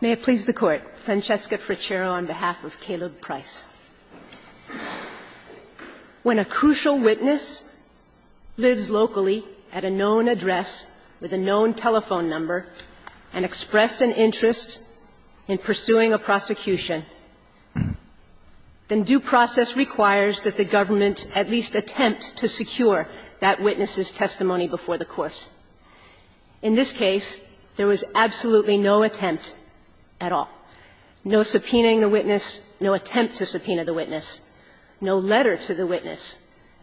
May it please the Court, Francesca Frichero on behalf of Caleb Price. When a crucial witness lives locally at a known address with a known telephone number and expressed an interest in pursuing a prosecution, then due process requires that the government at least attempt to secure that witness's testimony before the court. In this case, there was absolutely no attempt at all. No subpoenaing the witness, no attempt to subpoena the witness, no letter to the witness,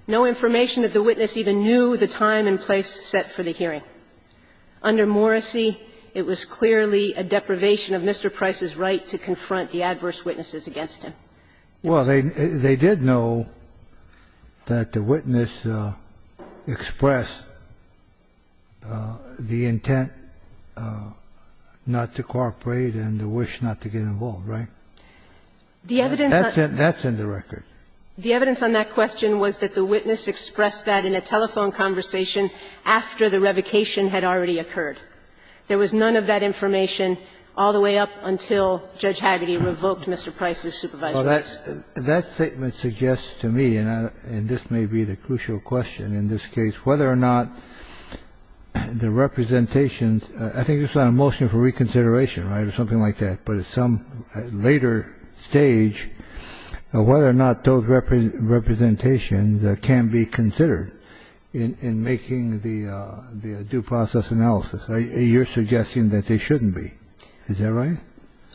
no information that the witness even knew the time and place set for the hearing. Under Morrissey, it was clearly a deprivation of Mr. Price's right to confront the adverse witnesses against him. Well, they did know that the witness expressed the intent not to cooperate and the wish not to get involved, right? The evidence on that question was that the witness expressed that in a telephone conversation after the revocation had already occurred. There was none of that information all the way up until Judge Hagedy revoked Mr. Price's supervisor's case. That statement suggests to me, and this may be the crucial question in this case, whether or not the representations – I think this is on a motion for reconsideration, right, or something like that, but at some later stage, whether or not those representations can be considered in making the due process analysis. You're suggesting that they shouldn't be. Is that right?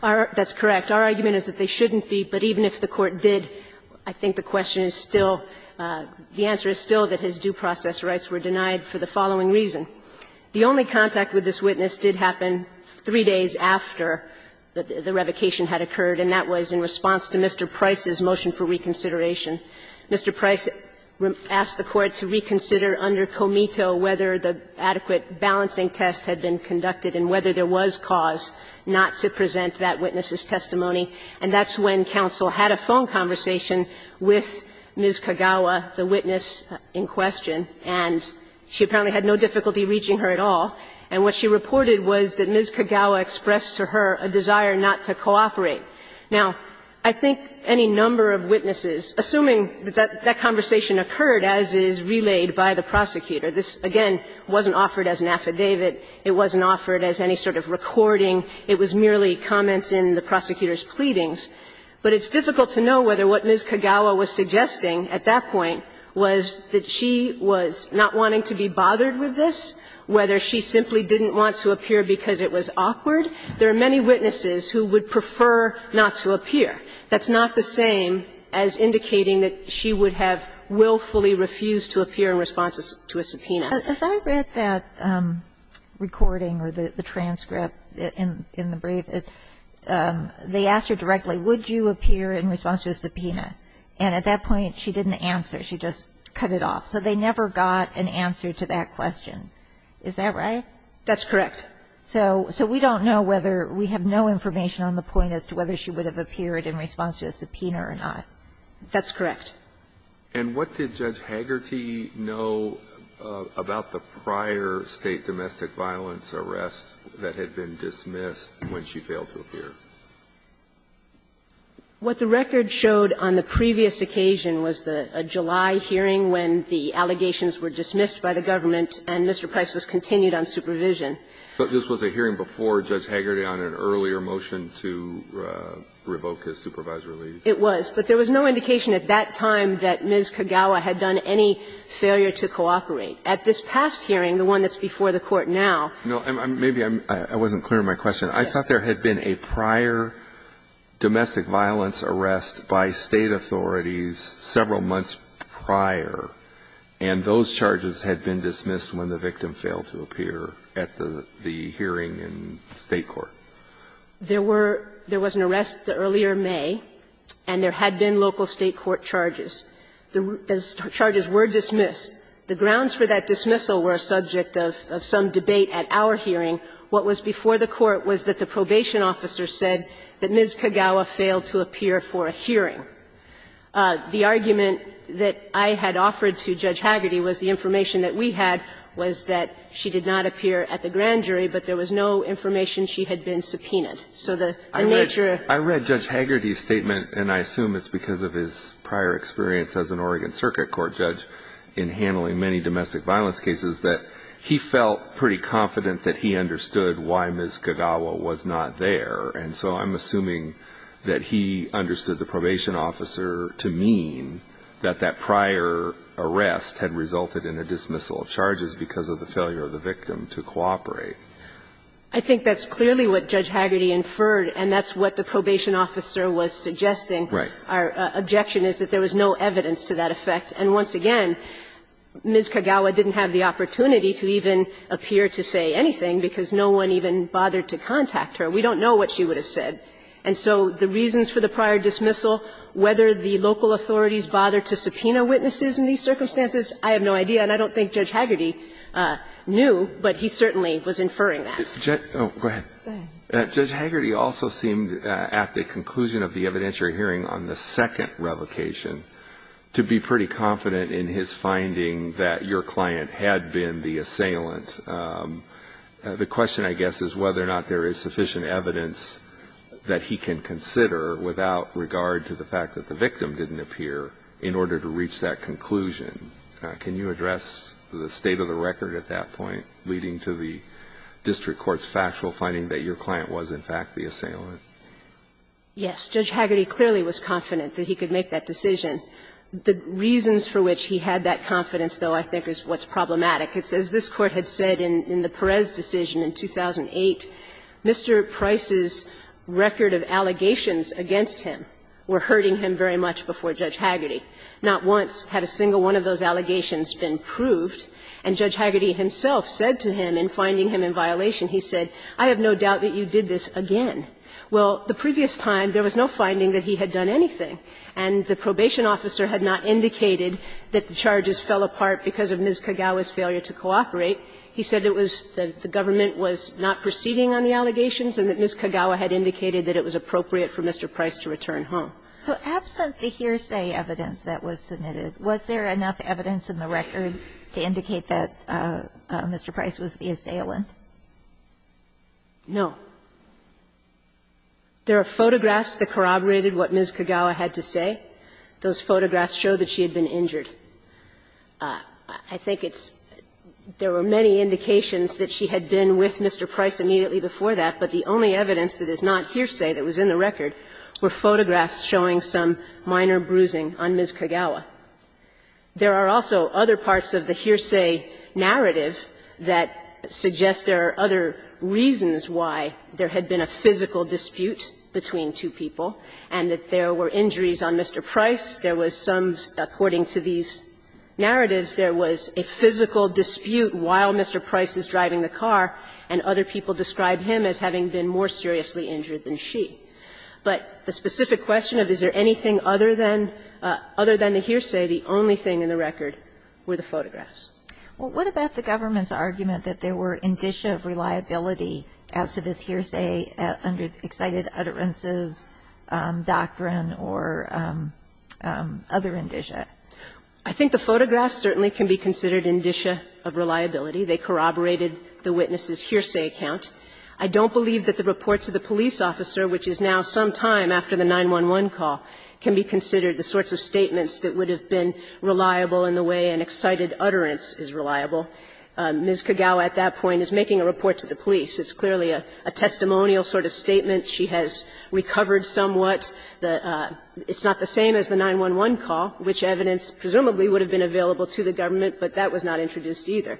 That's correct. Our argument is that they shouldn't be, but even if the Court did, I think the question is still – the answer is still that his due process rights were denied for the following reason. The only contact with this witness did happen three days after the revocation had occurred, and that was in response to Mr. Price's motion for reconsideration. Mr. Price asked the Court to reconsider under Comito whether the adequate balancing test had been conducted and whether there was cause not to present that witness's testimony, and that's when counsel had a phone conversation with Ms. Kagawa, the witness in question, and she apparently had no difficulty reaching her at all. And what she reported was that Ms. Kagawa expressed to her a desire not to cooperate. Now, I think any number of witnesses, assuming that that conversation occurred as is relayed by the prosecutor – this, again, wasn't offered as an affidavit, it wasn't offered as any sort of recording, it was merely comments in the prosecutor's pleadings – but it's difficult to know whether what Ms. Kagawa was suggesting at that point was that she was not wanting to be bothered with this, whether she simply didn't want to appear because it was awkward. There are many witnesses who would prefer not to appear. That's not the same as indicating that she would have willfully refused to appear in response to a subpoena. Kagan. Kagan. As I read that recording or the transcript in the brief, they asked her directly, would you appear in response to a subpoena, and at that point, she didn't answer. She just cut it off. So they never got an answer to that question. Is that right? That's correct. So we don't know whether – we have no information on the point as to whether she would have appeared in response to a subpoena or not. That's correct. And what did Judge Hagerty know about the prior State domestic violence arrest that had been dismissed when she failed to appear? What the record showed on the previous occasion was the July hearing when the allegations were dismissed by the government and Mr. Price was continued on supervision. So this was a hearing before Judge Hagerty on an earlier motion to revoke his supervisory leave? It was. But there was no indication at that time that Ms. Kagawa had done any failure to cooperate. At this past hearing, the one that's before the Court now – No. Maybe I'm – I wasn't clear on my question. I thought there had been a prior domestic violence arrest by State authorities several months prior, and those charges had been dismissed when the victim failed to appear at the hearing in State court. There were – there was an arrest earlier May, and there had been local State court charges. The charges were dismissed. The grounds for that dismissal were a subject of some debate at our hearing. What was before the Court was that the probation officer said that Ms. Kagawa failed to appear for a hearing. The argument that I had offered to Judge Hagerty was the information that we had was that she did not appear at the grand jury, but there was no information she had been subpoenaed. So the nature of the case was that she had failed to appear at the grand jury. I read – I read Judge Hagerty's statement, and I assume it's because of his prior experience as an Oregon Circuit Court judge in handling many domestic violence cases, that he felt pretty confident that he understood why Ms. Kagawa was not there. And so I'm assuming that he understood the probation officer to mean that that prior arrest had resulted in a dismissal of charges because of the failure of the victim to cooperate. I think that's clearly what Judge Hagerty inferred, and that's what the probation officer was suggesting. Right. Our objection is that there was no evidence to that effect. And once again, Ms. Kagawa didn't have the opportunity to even appear to say anything because no one even bothered to contact her. We don't know what she would have said. And so the reasons for the prior dismissal, whether the local authorities bothered to subpoena witnesses in these circumstances, I have no idea. And I don't think Judge Hagerty knew, but he certainly was inferring that. Oh, go ahead. Go ahead. Judge Hagerty also seemed, at the conclusion of the evidentiary hearing on the second revocation, to be pretty confident in his finding that your client had been the assailant. The question, I guess, is whether or not there is sufficient evidence that he can consider without regard to the fact that the victim didn't appear in order to reach that conclusion. Can you address the state of the record at that point leading to the district court's factual finding that your client was, in fact, the assailant? Yes. Judge Hagerty clearly was confident that he could make that decision. The reasons for which he had that confidence, though, I think is what's problematic. It's as this Court had said in the Perez decision in 2008, Mr. Price's record of allegations against him were hurting him very much before Judge Hagerty. Not once had a single one of those allegations been proved. And Judge Hagerty himself said to him in finding him in violation, he said, I have no doubt that you did this again. Well, the previous time, there was no finding that he had done anything, and the probation officer had not indicated that the charges fell apart because of Ms. Kagawa's failure to cooperate. He said it was that the government was not proceeding on the allegations and that Ms. Kagawa had indicated that it was appropriate for Mr. Price to return home. So absent the hearsay evidence that was submitted, was there enough evidence in the record to indicate that Mr. Price was the assailant? No. There are photographs that corroborated what Ms. Kagawa had to say. Those photographs show that she had been injured. I think it's – there were many indications that she had been with Mr. Price immediately before that, but the only evidence that is not hearsay that was in the record were photographs showing some minor bruising on Ms. Kagawa. There are also other parts of the hearsay narrative that suggest there are other reasons why there had been a physical dispute between two people and that there were injuries on Mr. Price. There was some, according to these narratives, there was a physical dispute while Mr. Price was driving the car, and other people described him as having been more seriously injured than she. But the specific question of is there anything other than the hearsay, the only thing in the record were the photographs. Well, what about the government's argument that there were indicia of reliability as to this hearsay under excited utterances, doctrine, or other indicia? I think the photographs certainly can be considered indicia of reliability. They corroborated the witness's hearsay account. I don't believe that the report to the police officer, which is now some time after the 911 call, can be considered the sorts of statements that would have been reliable in the way an excited utterance is reliable. Ms. Kagawa at that point is making a report to the police. It's clearly a testimonial sort of statement. She has recovered somewhat. It's not the same as the 911 call, which evidence presumably would have been available to the government, but that was not introduced either.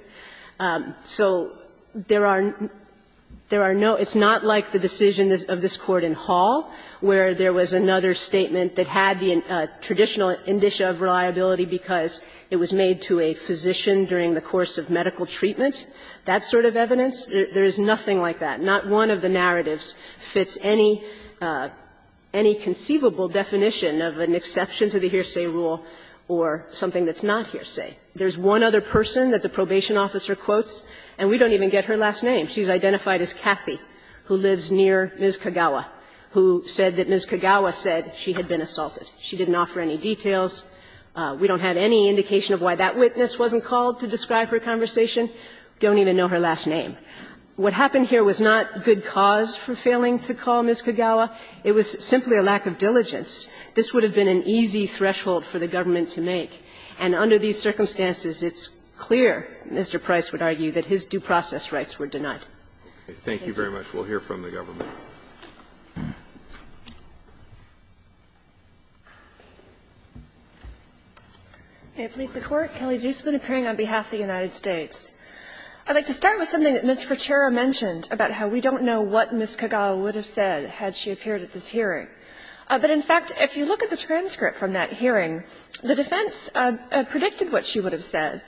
So there are no – it's not like the decision of this Court in Hall, where there was another statement that had the traditional indicia of reliability because it was made to a physician during the course of medical treatment, that sort of evidence. There is nothing like that. Not one of the narratives fits any conceivable definition of an exception to the hearsay rule or something that's not hearsay. There's one other person that the probation officer quotes, and we don't even get her last name. She's identified as Kathy, who lives near Ms. Kagawa, who said that Ms. Kagawa said she had been assaulted. She didn't offer any details. We don't have any indication of why that witness wasn't called to describe her conversation. Don't even know her last name. What happened here was not good cause for failing to call Ms. Kagawa. It was simply a lack of diligence. This would have been an easy threshold for the government to make. And under these circumstances, it's clear, Mr. Price would argue, that his due process rights were denied. Thank you very much. We'll hear from the government. Kelly's use been appearing on behalf of the United States. I'd like to start with something that Ms. Fratera mentioned about how we don't know what Ms. Kagawa would have said had she appeared at this hearing. But in fact, if you look at the transcript from that hearing, the defense predicted what she would have said.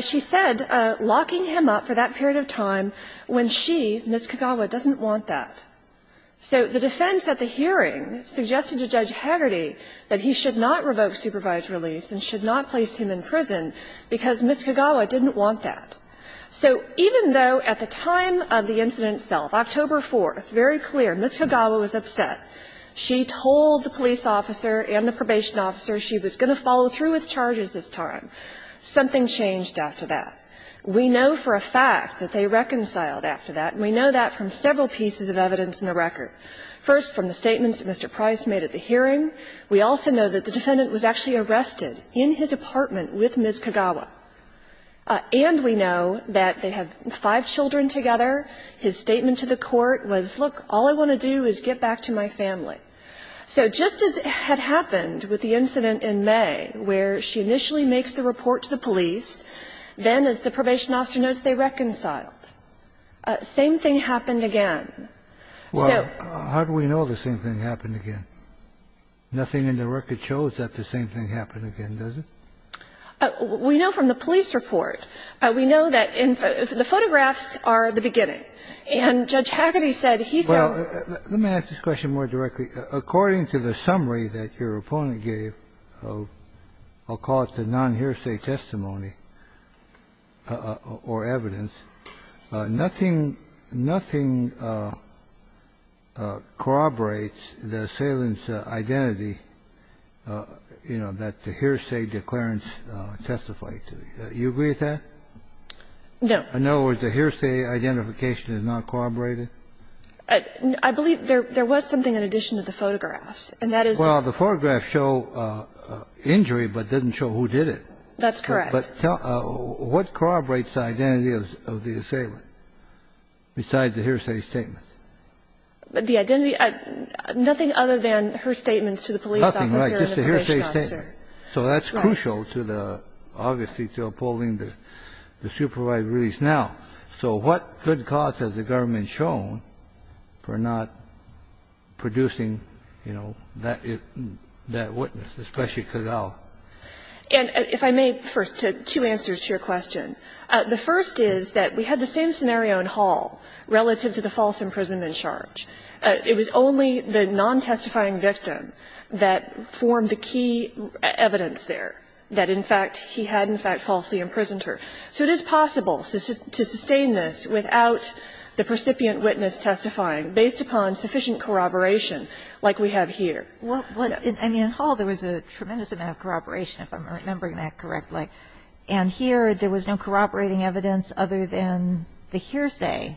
She said, locking him up for that period of time when she, Ms. Kagawa, doesn't want that. So the defense at the hearing suggested to Judge Hagerty that he should not revoke supervised release and should not place him in prison because Ms. Kagawa didn't want that. So even though at the time of the incident itself, October 4th, very clear, Ms. Kagawa was upset. She told the police officer and the probation officer she was going to follow through with charges this time. Something changed after that. We know for a fact that they reconciled after that, and we know that from several pieces of evidence in the record. First, from the statements that Mr. Price made at the hearing, we also know that the defendant was actually arrested in his apartment with Ms. Kagawa. And we know that they have five children together. And we also know that Ms. Kagawa, in her statement to the court, was, look, all I want to do is get back to my family. So just as had happened with the incident in May, where she initially makes the report to the police, then, as the probation officer notes, they reconciled, same thing happened again. So we know the same thing happened again, nothing in the record shows that the same thing happened again, does it? We know from the police report. We know that the photographs are the beginning. And Judge Hagerty said he felt that the same thing happened again. Kennedy, let me ask this question more directly. According to the summary that your opponent gave, I'll call it the non-hearsay testimony or evidence, nothing, nothing corroborates the assailant's identity, you know, that the hearsay declarants testified to. Do you agree with that? No. In other words, the hearsay identification is not corroborated? I believe there was something in addition to the photographs, and that is the ---- Well, the photographs show injury, but didn't show who did it. That's correct. But what corroborates the identity of the assailant besides the hearsay statements? The identity of the ---- nothing other than her statements to the police officer and the parish officer. Nothing like just a hearsay statement. So that's crucial to the ---- obviously to upholding the supervised release now. So what good cause has the government shown for not producing, you know, that witness, especially Cazal? And if I may, first, two answers to your question. The first is that we had the same scenario in Hall relative to the false imprisonment charge. It was only the non-testifying victim that formed the key evidence there, that in fact he had in fact falsely imprisoned her. So it is possible to sustain this without the precipient witness testifying based upon sufficient corroboration like we have here. Well, I mean, in Hall there was a tremendous amount of corroboration, if I'm remembering that correctly. And here there was no corroborating evidence other than the hearsay.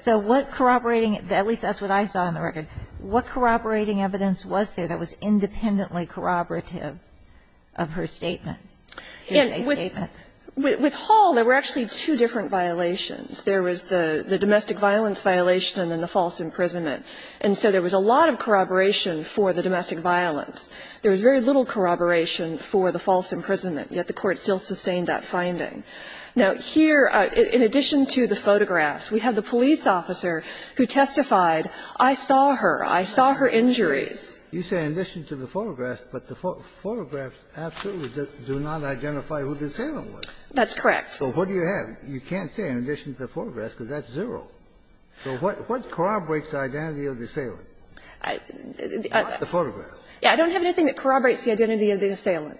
So what corroborating ---- at least that's what I saw in the record. What corroborating evidence was there that was independently corroborative of her statement, hearsay statement? And with Hall, there were actually two different violations. There was the domestic violence violation and then the false imprisonment. And so there was a lot of corroboration for the domestic violence. There was very little corroboration for the false imprisonment, yet the Court still sustained that finding. Now, here, in addition to the photographs, we have the police officer who testified, I saw her. I saw her injuries. You say in addition to the photographs, but the photographs absolutely do not identify who the assailant was. That's correct. So what do you have? You can't say in addition to the photographs because that's zero. So what corroborates the identity of the assailant? I don't know. I don't have anything that corroborates the identity of the assailant.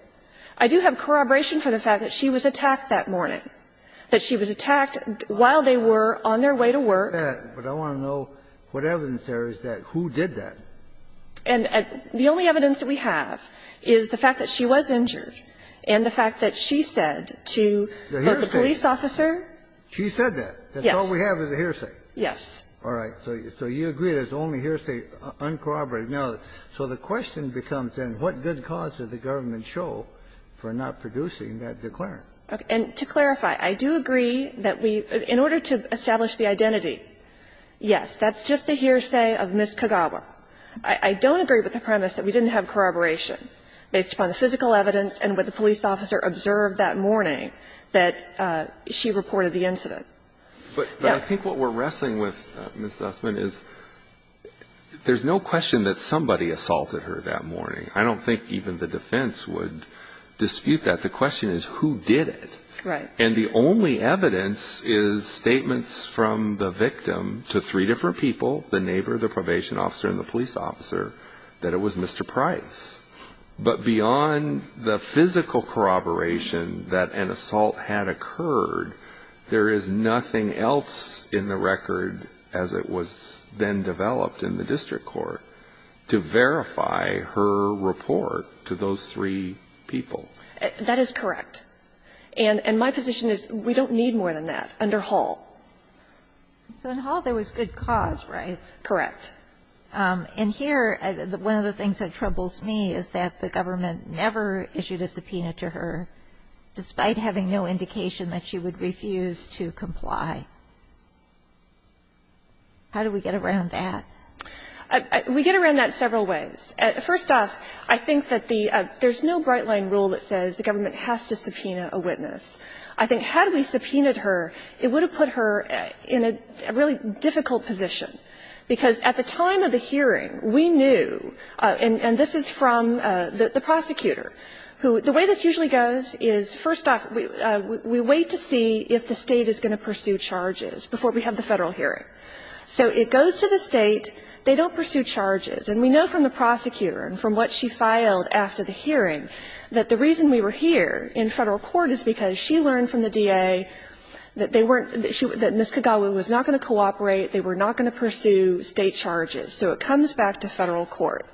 I do have corroboration for the fact that she was attacked that morning, that she was attacked while they were on their way to work. I know that, but I want to know what evidence there is that who did that. And the only evidence that we have is the fact that she was injured and the fact that she said to the police officer. The hearsay. She said that. Yes. That's all we have is the hearsay. Yes. All right. So you agree that it's only hearsay uncorroborated. Now, so the question becomes, then, what good cause did the government show for not producing that declarant? And to clarify, I do agree that we, in order to establish the identity, yes, that's just the hearsay of Ms. Kagawa. I don't agree with the premise that we didn't have corroboration based upon the physical evidence and what the police officer observed that morning that she reported the incident. But I think what we're wrestling with, Ms. Zussman, is there's no question that somebody assaulted her that morning. I don't think even the defense would dispute that. The question is, who did it? Right. And the only evidence is statements from the victim to three different people, the neighbor, the probation officer, and the police officer, that it was Mr. Price. But beyond the physical corroboration that an assault had occurred, there is nothing else in the record as it was then developed in the district court to verify her report to those three people. That is correct. And my position is we don't need more than that under Hall. So in Hall there was good cause, right? Correct. And here, one of the things that troubles me is that the government never issued a subpoena to her, despite having no indication that she would refuse to comply. How do we get around that? We get around that several ways. First off, I think that the – there's no bright-line rule that says the government has to subpoena a witness. I think had we subpoenaed her, it would have put her in a really difficult position, because at the time of the hearing, we knew, and this is from the prosecutor, who the way this usually goes is, first off, we wait to see if the State is going to pursue charges before we have the Federal hearing. So it goes to the State. They don't pursue charges. And we know from the prosecutor and from what she filed after the hearing that the reason we were here in Federal court is because she learned from the DA that they weren't – that Ms. Kagawa was not going to cooperate, they were not going to pursue State charges. So it comes back to Federal court.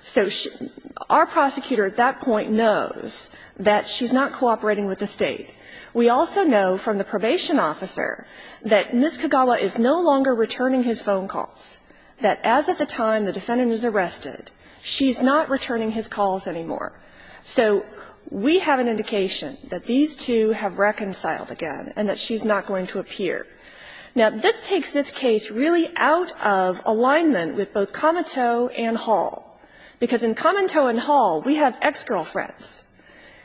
So our prosecutor at that point knows that she's not cooperating with the State. We also know from the probation officer that Ms. Kagawa is no longer returning his phone calls, that as of the time the defendant was arrested, she's not returning his calls anymore. So we have an indication that these two have reconciled again and that she's not going to appear. Now, this takes this case really out of alignment with both Comiteau and Hall, because in Comiteau and Hall, we have ex-girlfriends.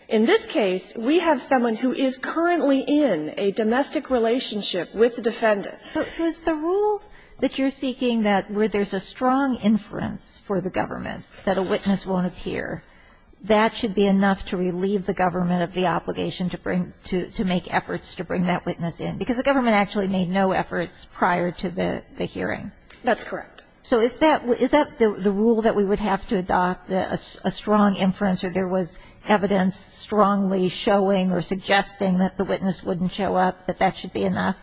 In this case, we have someone who is currently in a domestic relationship with the defendant. So is the rule that you're seeking that where there's a strong inference for the government that a witness won't appear, that should be enough to relieve the government of the obligation to bring – to make efforts to bring that witness in? Because the government actually made no efforts prior to the hearing. That's correct. So is that – is that the rule that we would have to adopt, a strong inference or there was evidence strongly showing or suggesting that the witness wouldn't show up, that that should be enough?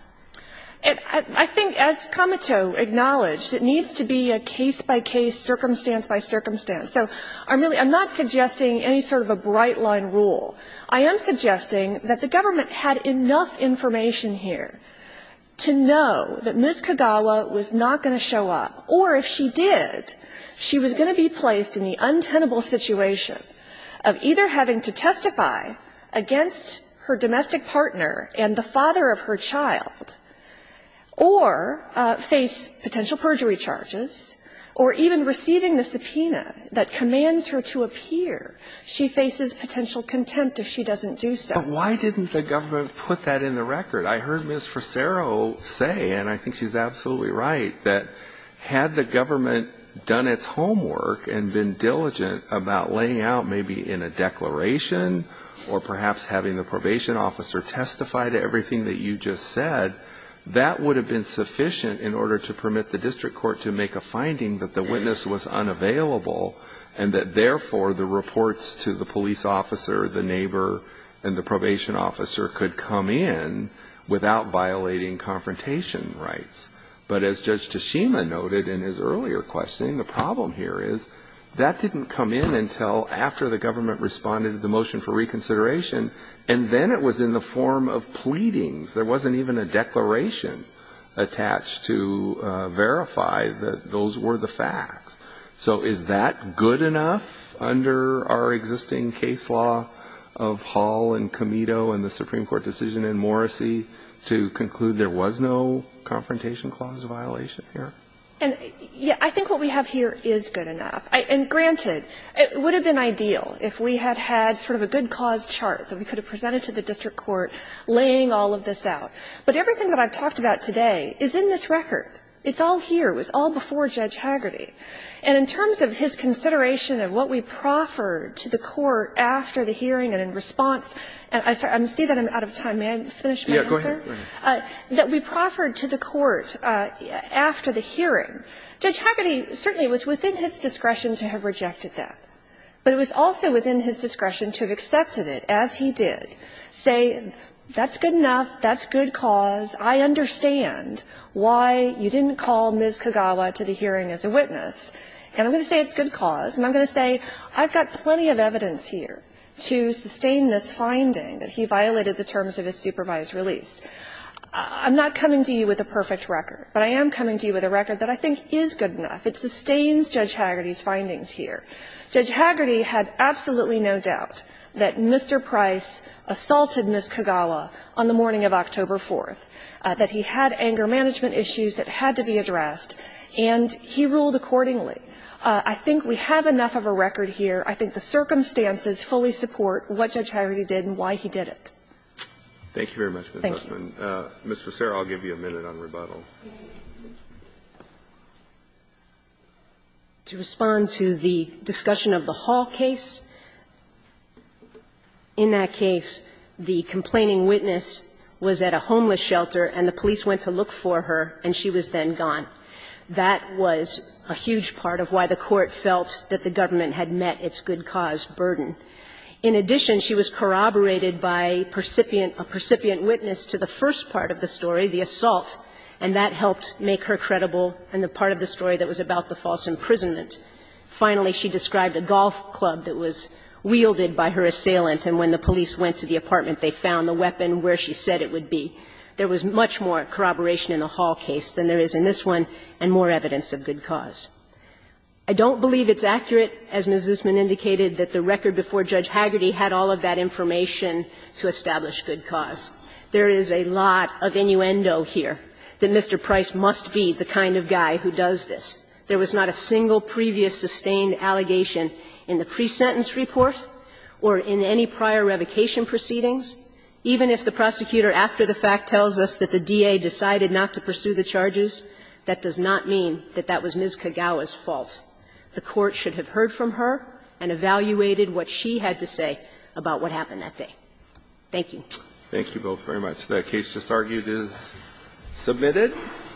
I think as Comiteau acknowledged, it needs to be a case-by-case, circumstance-by-circumstance. So I'm not suggesting any sort of a bright-line rule. I am suggesting that the government had enough information here to know that Ms. Kagawa was not going to show up, or if she did, she was going to be placed in the untenable situation of either having to testify against her domestic partner and the father of her child, or face potential perjury charges, or even receiving the subpoena that commands her to appear. She faces potential contempt if she doesn't do so. But why didn't the government put that in the record? I heard Ms. Frisero say, and I think she's absolutely right, that had the government done its homework and been diligent about laying out maybe in a declaration, or perhaps having the probation officer testify to everything that you just said, that would have been sufficient in order to permit the district court to make a finding that the witness was unavailable and that therefore the reports to the police officer, the neighbor, and the probation officer could come in without violating confrontation rights. But as Judge Tashima noted in his earlier questioning, the problem here is that didn't come in until after the government responded to the motion for reconsideration, and then it was in the form of pleadings. There wasn't even a declaration attached to verify that those were the facts. So is that good enough under our existing case law of Hall and Comito and the Supreme Court, the confrontation clause violation here? And, yeah, I think what we have here is good enough. And granted, it would have been ideal if we had had sort of a good cause chart that we could have presented to the district court laying all of this out. But everything that I've talked about today is in this record. It's all here. It was all before Judge Hagerty. And in terms of his consideration of what we proffered to the court after the hearing and in response, and I'm sorry, I see that I'm out of time. May I finish my answer? Yeah. Go ahead. That we proffered to the court after the hearing, Judge Hagerty certainly was within his discretion to have rejected that. But it was also within his discretion to have accepted it, as he did, say that's good enough, that's good cause, I understand why you didn't call Ms. Kagawa to the hearing as a witness. And I'm going to say it's good cause, and I'm going to say I've got plenty of evidence here to sustain this finding that he violated the terms of his supervised release. I'm not coming to you with a perfect record, but I am coming to you with a record that I think is good enough. It sustains Judge Hagerty's findings here. Judge Hagerty had absolutely no doubt that Mr. Price assaulted Ms. Kagawa on the morning of October 4th, that he had anger management issues that had to be addressed, and he ruled accordingly. I think we have enough of a record here. I think the circumstances fully support what Judge Hagerty did and why he did it. Thank you. Roberts. Thank you. Mr. Cera, I'll give you a minute on rebuttal. To respond to the discussion of the Hall case, in that case, the complaining witness was at a homeless shelter, and the police went to look for her, and she was then gone. That was a huge part of why the Court felt that the government had met its good cause burden. In addition, she was corroborated by a percipient witness to the first part of the story, the assault, and that helped make her credible in the part of the story that was about the false imprisonment. Finally, she described a golf club that was wielded by her assailant, and when the police went to the apartment, they found the weapon where she said it would be. There was much more corroboration in the Hall case than there is in this one, and more evidence of good cause. I don't believe it's accurate, as Ms. Guzman indicated, that the record before Judge Hagerty had all of that information to establish good cause. There is a lot of innuendo here that Mr. Price must be the kind of guy who does this. There was not a single previous sustained allegation in the pre-sentence report or in any prior revocation proceedings. Even if the prosecutor, after the fact, tells us that the DA decided not to pursue the charges, that does not mean that that was Ms. Kagawa's fault. The Court should have heard from her and evaluated what she had to say about what happened that day. Thank you. Thank you both very much. That case just argued is submitted.